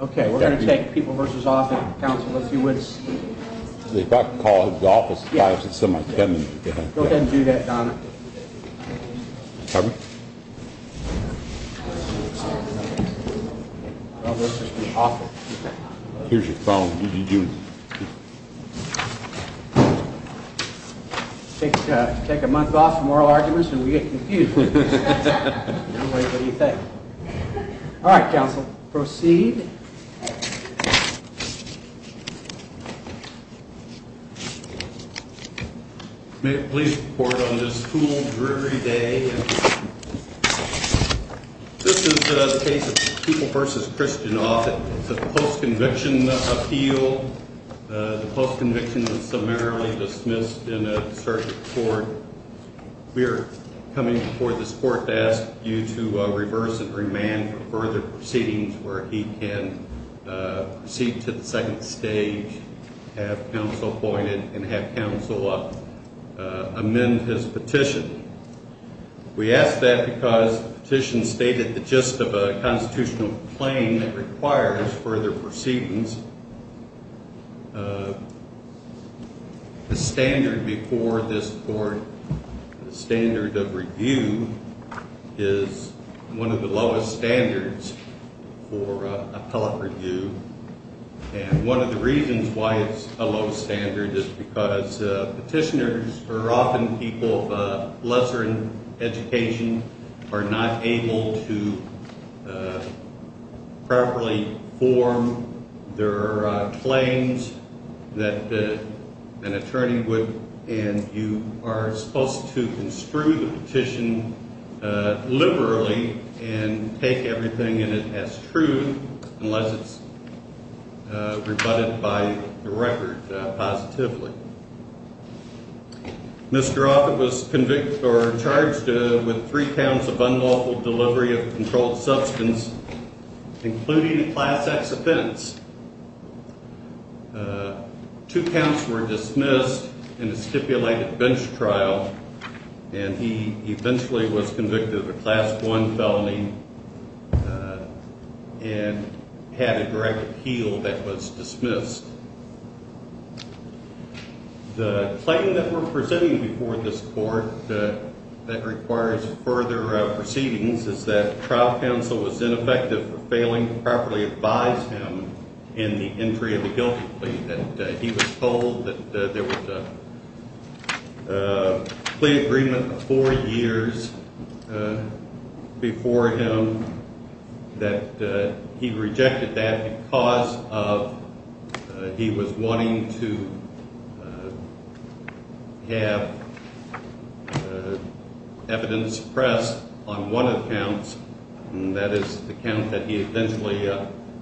Okay, we're going to take People v. Offutt, Council, if you would. If I could call his office at 5, it's in my pen. Go ahead and do that, Donna. Well, this is awful. Here's your phone. Take a month off for moral arguments and we get confused. I'm like, what do you think? All right, Council, proceed. May it please report on this cool, dreary day. This is a case of People v. Christian Offutt. It's a post-conviction appeal. The post-conviction is summarily dismissed in a search report. We are coming before this Court to ask you to reverse and remand for further proceedings where he can proceed to the second stage, have Council appointed, and have Council amend his petition. We ask that because the petition stated the gist of a constitutional claim that requires further proceedings. The standard before this Court, the standard of review, is one of the lowest standards for appellate review, and one of the reasons why it's a low standard is because petitioners are often people of lesser education, are not able to properly form their claims that an attorney would and you are supposed to construe the petition liberally and take everything in it as true unless it's rebutted by the record positively. Mr. Offutt was charged with three counts of unlawful delivery of a controlled substance, including a Class X offense. Two counts were dismissed in a stipulated bench trial, and he eventually was convicted of a Class I felony and had a direct appeal that was dismissed. The claim that we're presenting before this Court that requires further proceedings is that trial counsel was ineffective for failing to properly advise him in the entry of a guilty plea that he was told that there was a plea agreement four years before him that he rejected that because of he was wanting to have evidence pressed on one of the counts and that is the count that he eventually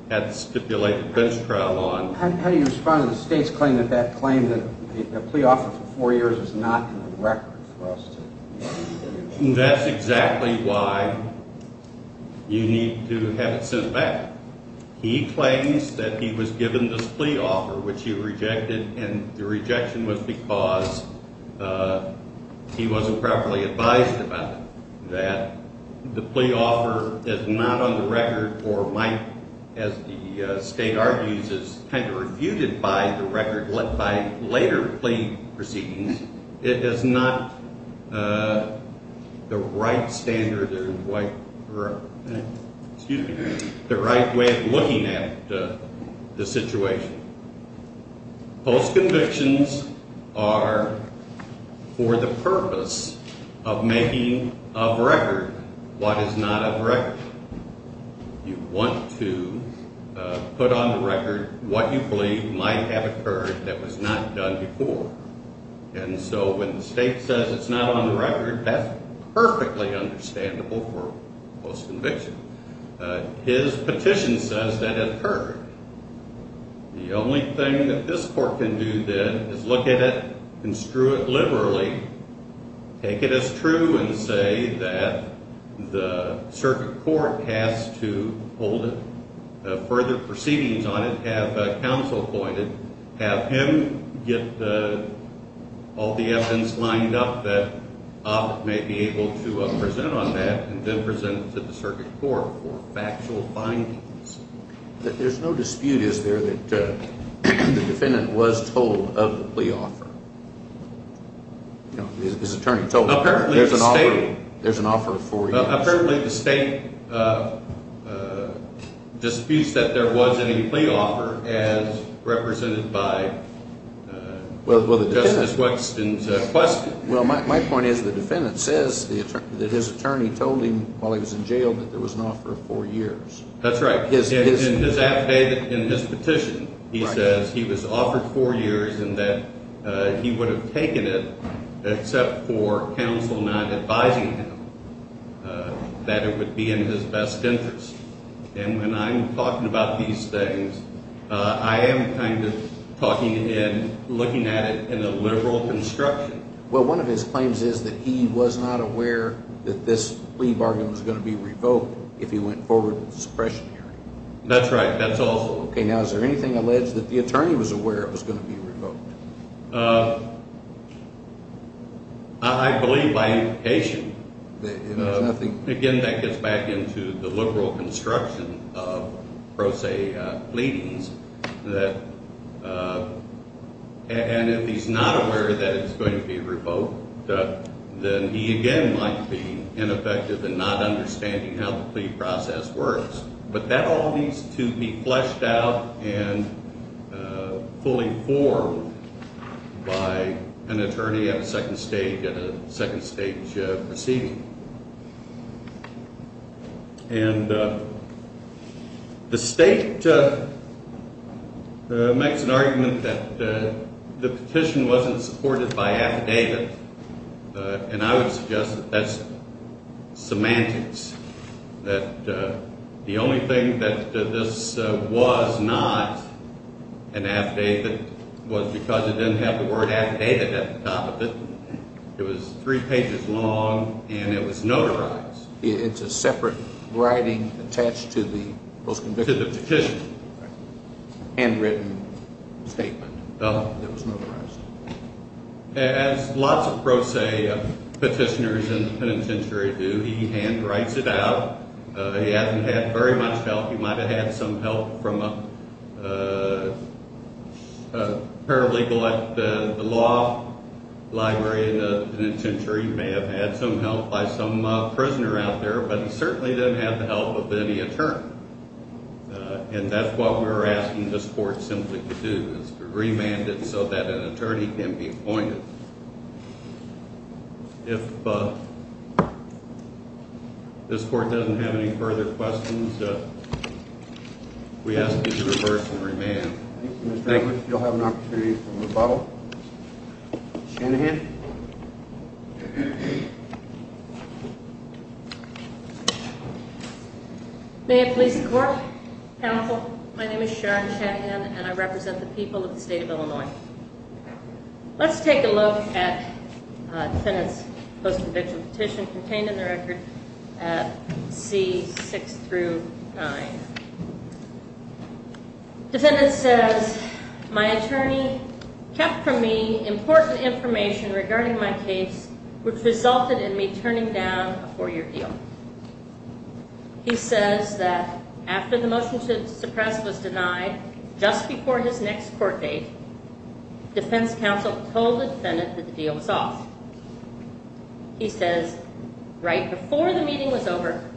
had stipulated bench trial on. How do you respond to the State's claim that that claim that a plea offer for four years is not in the record for us to That's exactly why you need to have it sent back. He claims that he was given this plea offer which he rejected and the rejection was because he wasn't properly advised about it, that the plea offer is not on the record or might, as the State argues, is kind of refuted by the record by later plea proceedings. It is not the right standard or the right way of looking at the situation. Post convictions are for the purpose of making of record what is not of record. You want to put on the record what you believe might have occurred that was not done before and so when the State says it's not on the record, that's perfectly understandable for post conviction. His petition says that it occurred. The only thing that this Court can do then is look at it, construe it liberally, take it as true and say that the Circuit Court has to hold it, have further proceedings on it, have counsel appointed, have him get all the evidence lined up that Obb may be able to present on that and then present it to the Circuit Court for factual findings. There's no dispute, is there, that the defendant was told of the plea offer? His attorney told him. There's an offer of four years. Apparently the State disputes that there was any plea offer as represented by Justice Wexton's question. My point is the defendant says that his attorney told him while he was in jail that there was an offer of four years. That's right. In his petition he says he was offered four years and that he would have taken it except for counsel not advising him that it would be in his best interest and when I'm talking about these things I am kind of talking and looking at it in a liberal construction. Well one of his claims is that he was not aware that this plea bargain was going to be revoked if he went forward with the suppression hearing. That's right, that's also. Okay, now is there anything alleged that the attorney was aware it was going to be revoked? I believe by implication. Again that gets back into the liberal construction of pro se pleadings that and if he's not aware that it's going to be revoked then he again might be ineffective in not understanding how the plea process works. But that all needs to be fleshed out and fully formed by an attorney at a second stage proceeding. The state makes an argument that the petition wasn't supported by affidavit and I would suggest that that's semantics. That the only thing that this was not an affidavit was because it didn't have the word affidavit at the top of it. It was three pages long and it was notarized. It's a separate writing attached to the petition. Handwritten statement. It was notarized. As lots of pro se petitioners in the penitentiary do, he hand writes it out. He hasn't had very much help. He might have had some help from a paralegal at the law library in the penitentiary. He may have had some help by some prisoner out there, but he certainly didn't have the help of any attorney. And that's what we were asking this case to be remanded so that an attorney can be appointed. If this court doesn't have any further questions, we ask you to reverse and remand. Sharon Shanahan. May it please the court. Counsel, my name is Sharon Shanahan and I represent the people of the state of Illinois. Let's take a look at defendant's post-conviction petition contained in the record at C6-9. Defendant says my attorney kept from me important information regarding my case which resulted in me turning down a four-year deal. He says that after the motion to suppress was denied just before his next court date, defense counsel told the defendant that the deal was off. He says right before the meeting was over,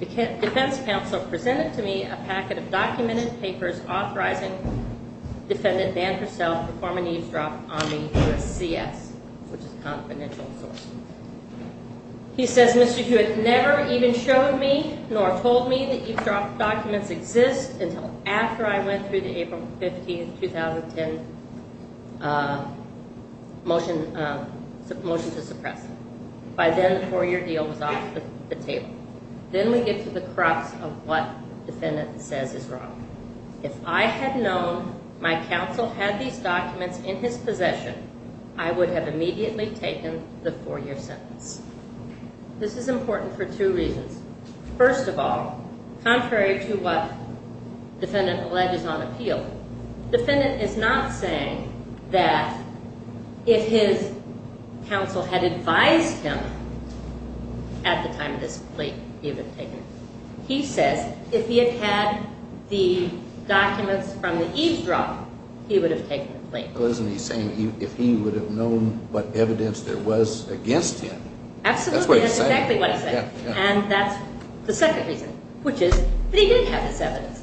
defense counsel presented to me a packet of documented papers authorizing defendant Dan Purcell to perform an eavesdrop on the U.S.C.S., which is a confidential source. He says Mr. Hewitt never even showed me nor told me that eavesdrop documents exist until after I went through the April 15, 2010 motion to suppress. By then the four-year deal was off the table. Then we get to the crux of what defendant says is wrong. If I had known my counsel had these documents in his possession, I would have immediately taken the four-year sentence. This is important for two reasons. First of all, contrary to what defendant alleges on appeal, defendant is not saying that if his counsel had advised him at the time of this complaint, he would have taken it. He says if he had had the documents from the eavesdrop, he would have taken the complaint. If he would have known what evidence there was against him. That's exactly what he said. But he did have this evidence.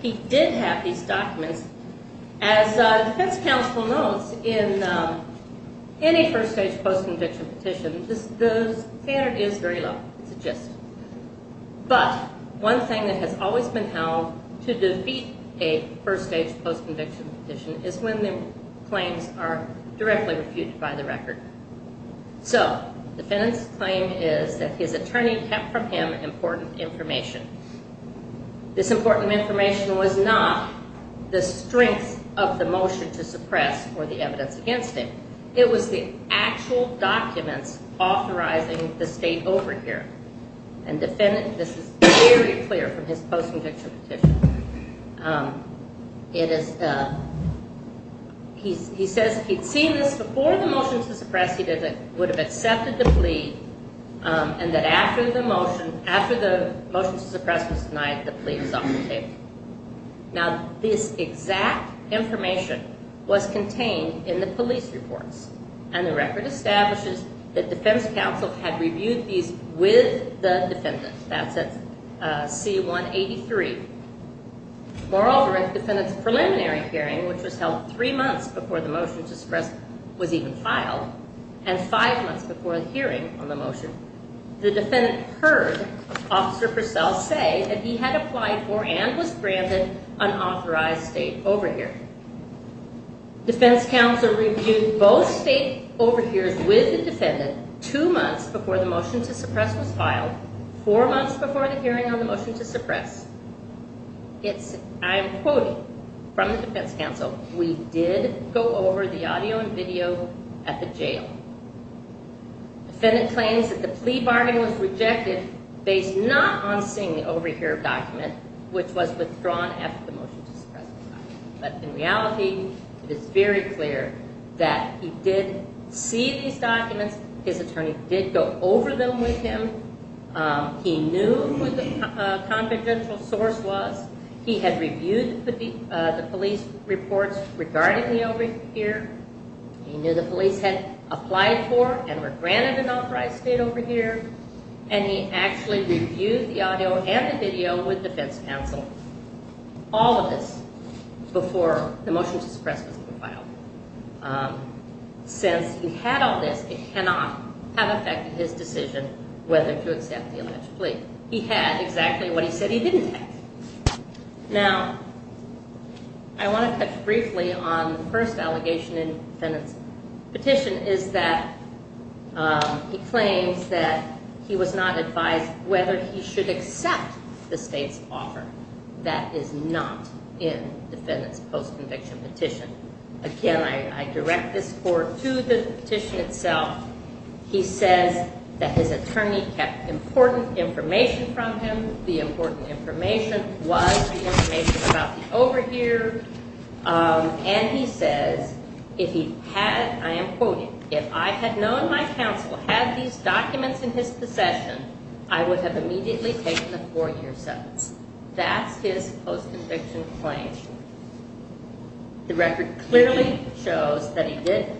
He did have these documents. As defense counsel knows, in any first-stage post-conviction petition, the standard is very low. It's a gist. But one thing that has always been held to defeat a first-stage post-conviction petition is when the claims are directly refuted by the record. So, defendant's claim is that his attorney kept from him important information. This important information was not the strength of the motion to suppress or the evidence against him. It was the actual documents authorizing the state over here. This is very clear from his post-conviction petition. He says if he had seen this before the motion to suppress, he would have accepted the plea and that after the motion to suppress was denied, the plea was off the table. This exact information was contained in the police reports. And the record establishes that defense counsel had reviewed these with the defendant. That's at C-183. Moreover, at the defendant's preliminary hearing, which was held three months before the motion to suppress was even filed and five months before the hearing on the motion, the defendant heard Officer Purcell say that he had applied for and was granted unauthorized state overhear. Defense counsel reviewed both state overhears with the defendant two months before the motion to suppress was filed, four months before the hearing on the motion to suppress. I'm quoting from the defense counsel. We did go over the audio and video at the jail. The defendant claims that the plea bargain was rejected based not on seeing the overhear document, which was withdrawn after the motion to suppress was filed. But in reality, it's very clear that he did see these documents. His attorney did go over them with him. He knew who the confidential source was. He had reviewed the police reports regarding the overhear. He knew the police had applied for and were granted an authorized state overhear. And he actually reviewed the audio and the video with defense counsel all of this before the motion to suppress was even filed. Since he had all this, it cannot have been his decision whether to accept the alleged plea. He had exactly what he said he didn't have. I want to touch briefly on the first allegation in the defendant's petition is that he claims that he was not advised whether he should accept the state's offer. That is not in the defendant's post-conviction petition. Again, I direct this court to the petition itself. He says that his attorney kept important information from him. The important information was the information about the overhear. And he says if he had, I am quoting, if I had known my counsel had these documents in his possession, I would have immediately taken a four-year sentence. That's his post-conviction claim. The record clearly shows that he did.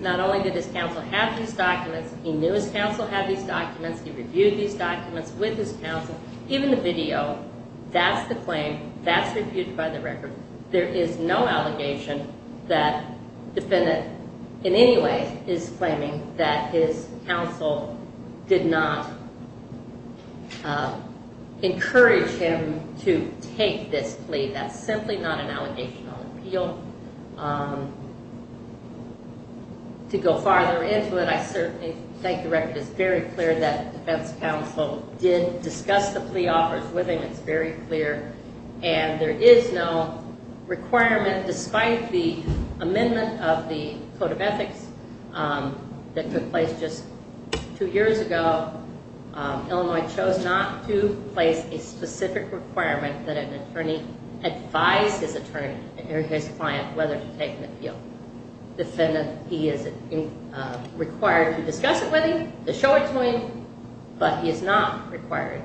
Not only did his counsel have these documents, he knew his counsel had these documents. He reviewed these documents with his counsel. Even the video, that's the claim. That's reviewed by the record. There is no allegation that the defendant in any way is claiming that his counsel did not encourage him to take this plea. That's simply not an allegational appeal. To go farther into it, I certainly think the record is very clear that the defense counsel did discuss the plea offers with him. It's very clear. And there is no requirement, despite the amendment of the Code of Ethics that took place just two years ago, Illinois chose not to place a specific requirement that an attorney advise his client whether to take an appeal. The defendant, he is required to discuss it with him, to show it to him, but he is not required.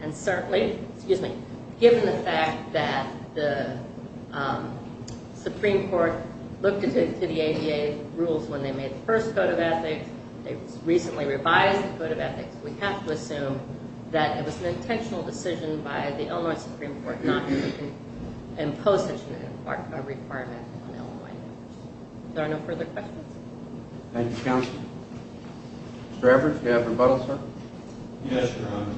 And certainly, excuse me, given the fact that the Supreme Court looked into the ADA rules when they made the first Code of Ethics, they recently revised the Code of Ethics, we have to assume that it was an intentional decision by the Illinois Supreme Court not to impose such a requirement on Illinois. Are there no further questions? Thank you, Counsel. Mr. Evers, do you have rebuttal, sir? Yes, Your Honor.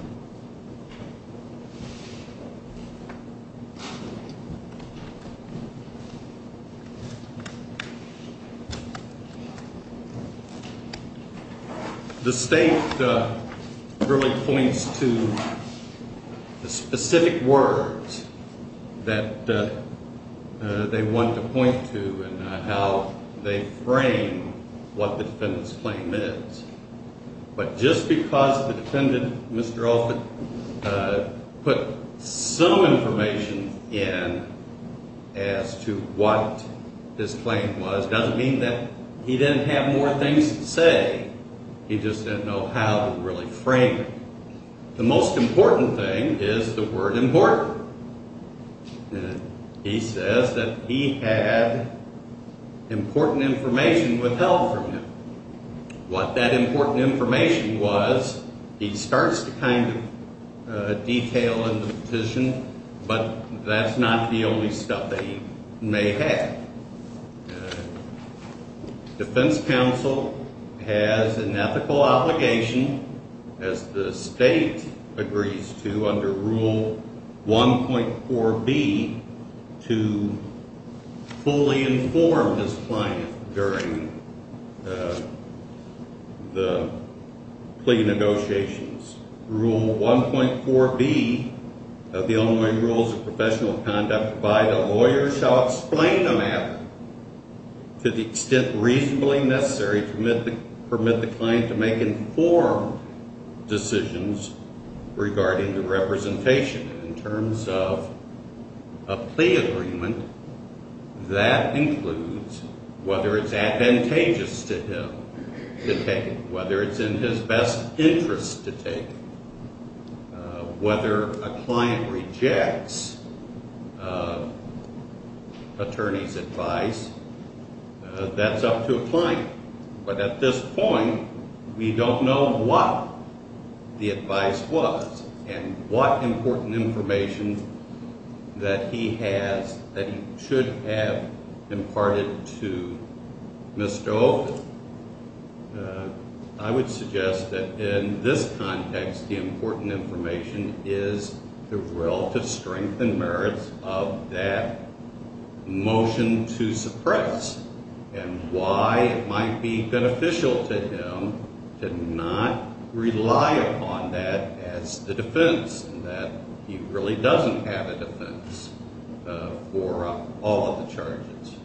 The state really points to the specific words that they want to point to and how they frame what the defendant's claim is. But just because the defendant, Mr. Alford, put some information in as to what his claim was, doesn't mean that he didn't have more things to say. He just didn't know how to really frame it. The most important thing is the word important. He says that he had important information withheld from him. What that important information was, he starts to kind of detail in the petition, but that's not the only stuff that he may have. Defense counsel has an ethical obligation, as the state agrees to, under Rule 1.4b, to fully inform his client during the plea negotiations. Rule 1.4b of the Illinois Rules of Professional Conduct provide a lawyer shall explain the matter to the extent reasonably necessary to permit the client to make informed decisions regarding the representation. In terms of a plea agreement, that includes whether it's advantageous to him to take it, whether it's in his best interest to take it, whether a client rejects attorney's advice, that's up to a client. But at this point, we don't know what the advice was and what important information that he has that he should have imparted to Ms. Stove. I would suggest that in this context, the important information is the relative strength and merits of that motion to suppress and why it might be beneficial to him to not rely upon that as the defense, in that he really doesn't have a defense for all of the charges.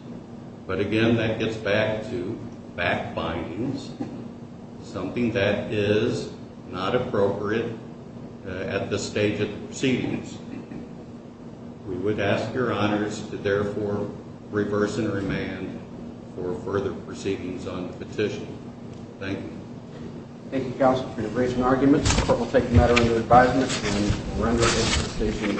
But again, that gets back to back bindings, something that is not appropriate at this stage of the proceedings. We would ask your honors to therefore reverse and remand for further proceedings on the petition. Thank you.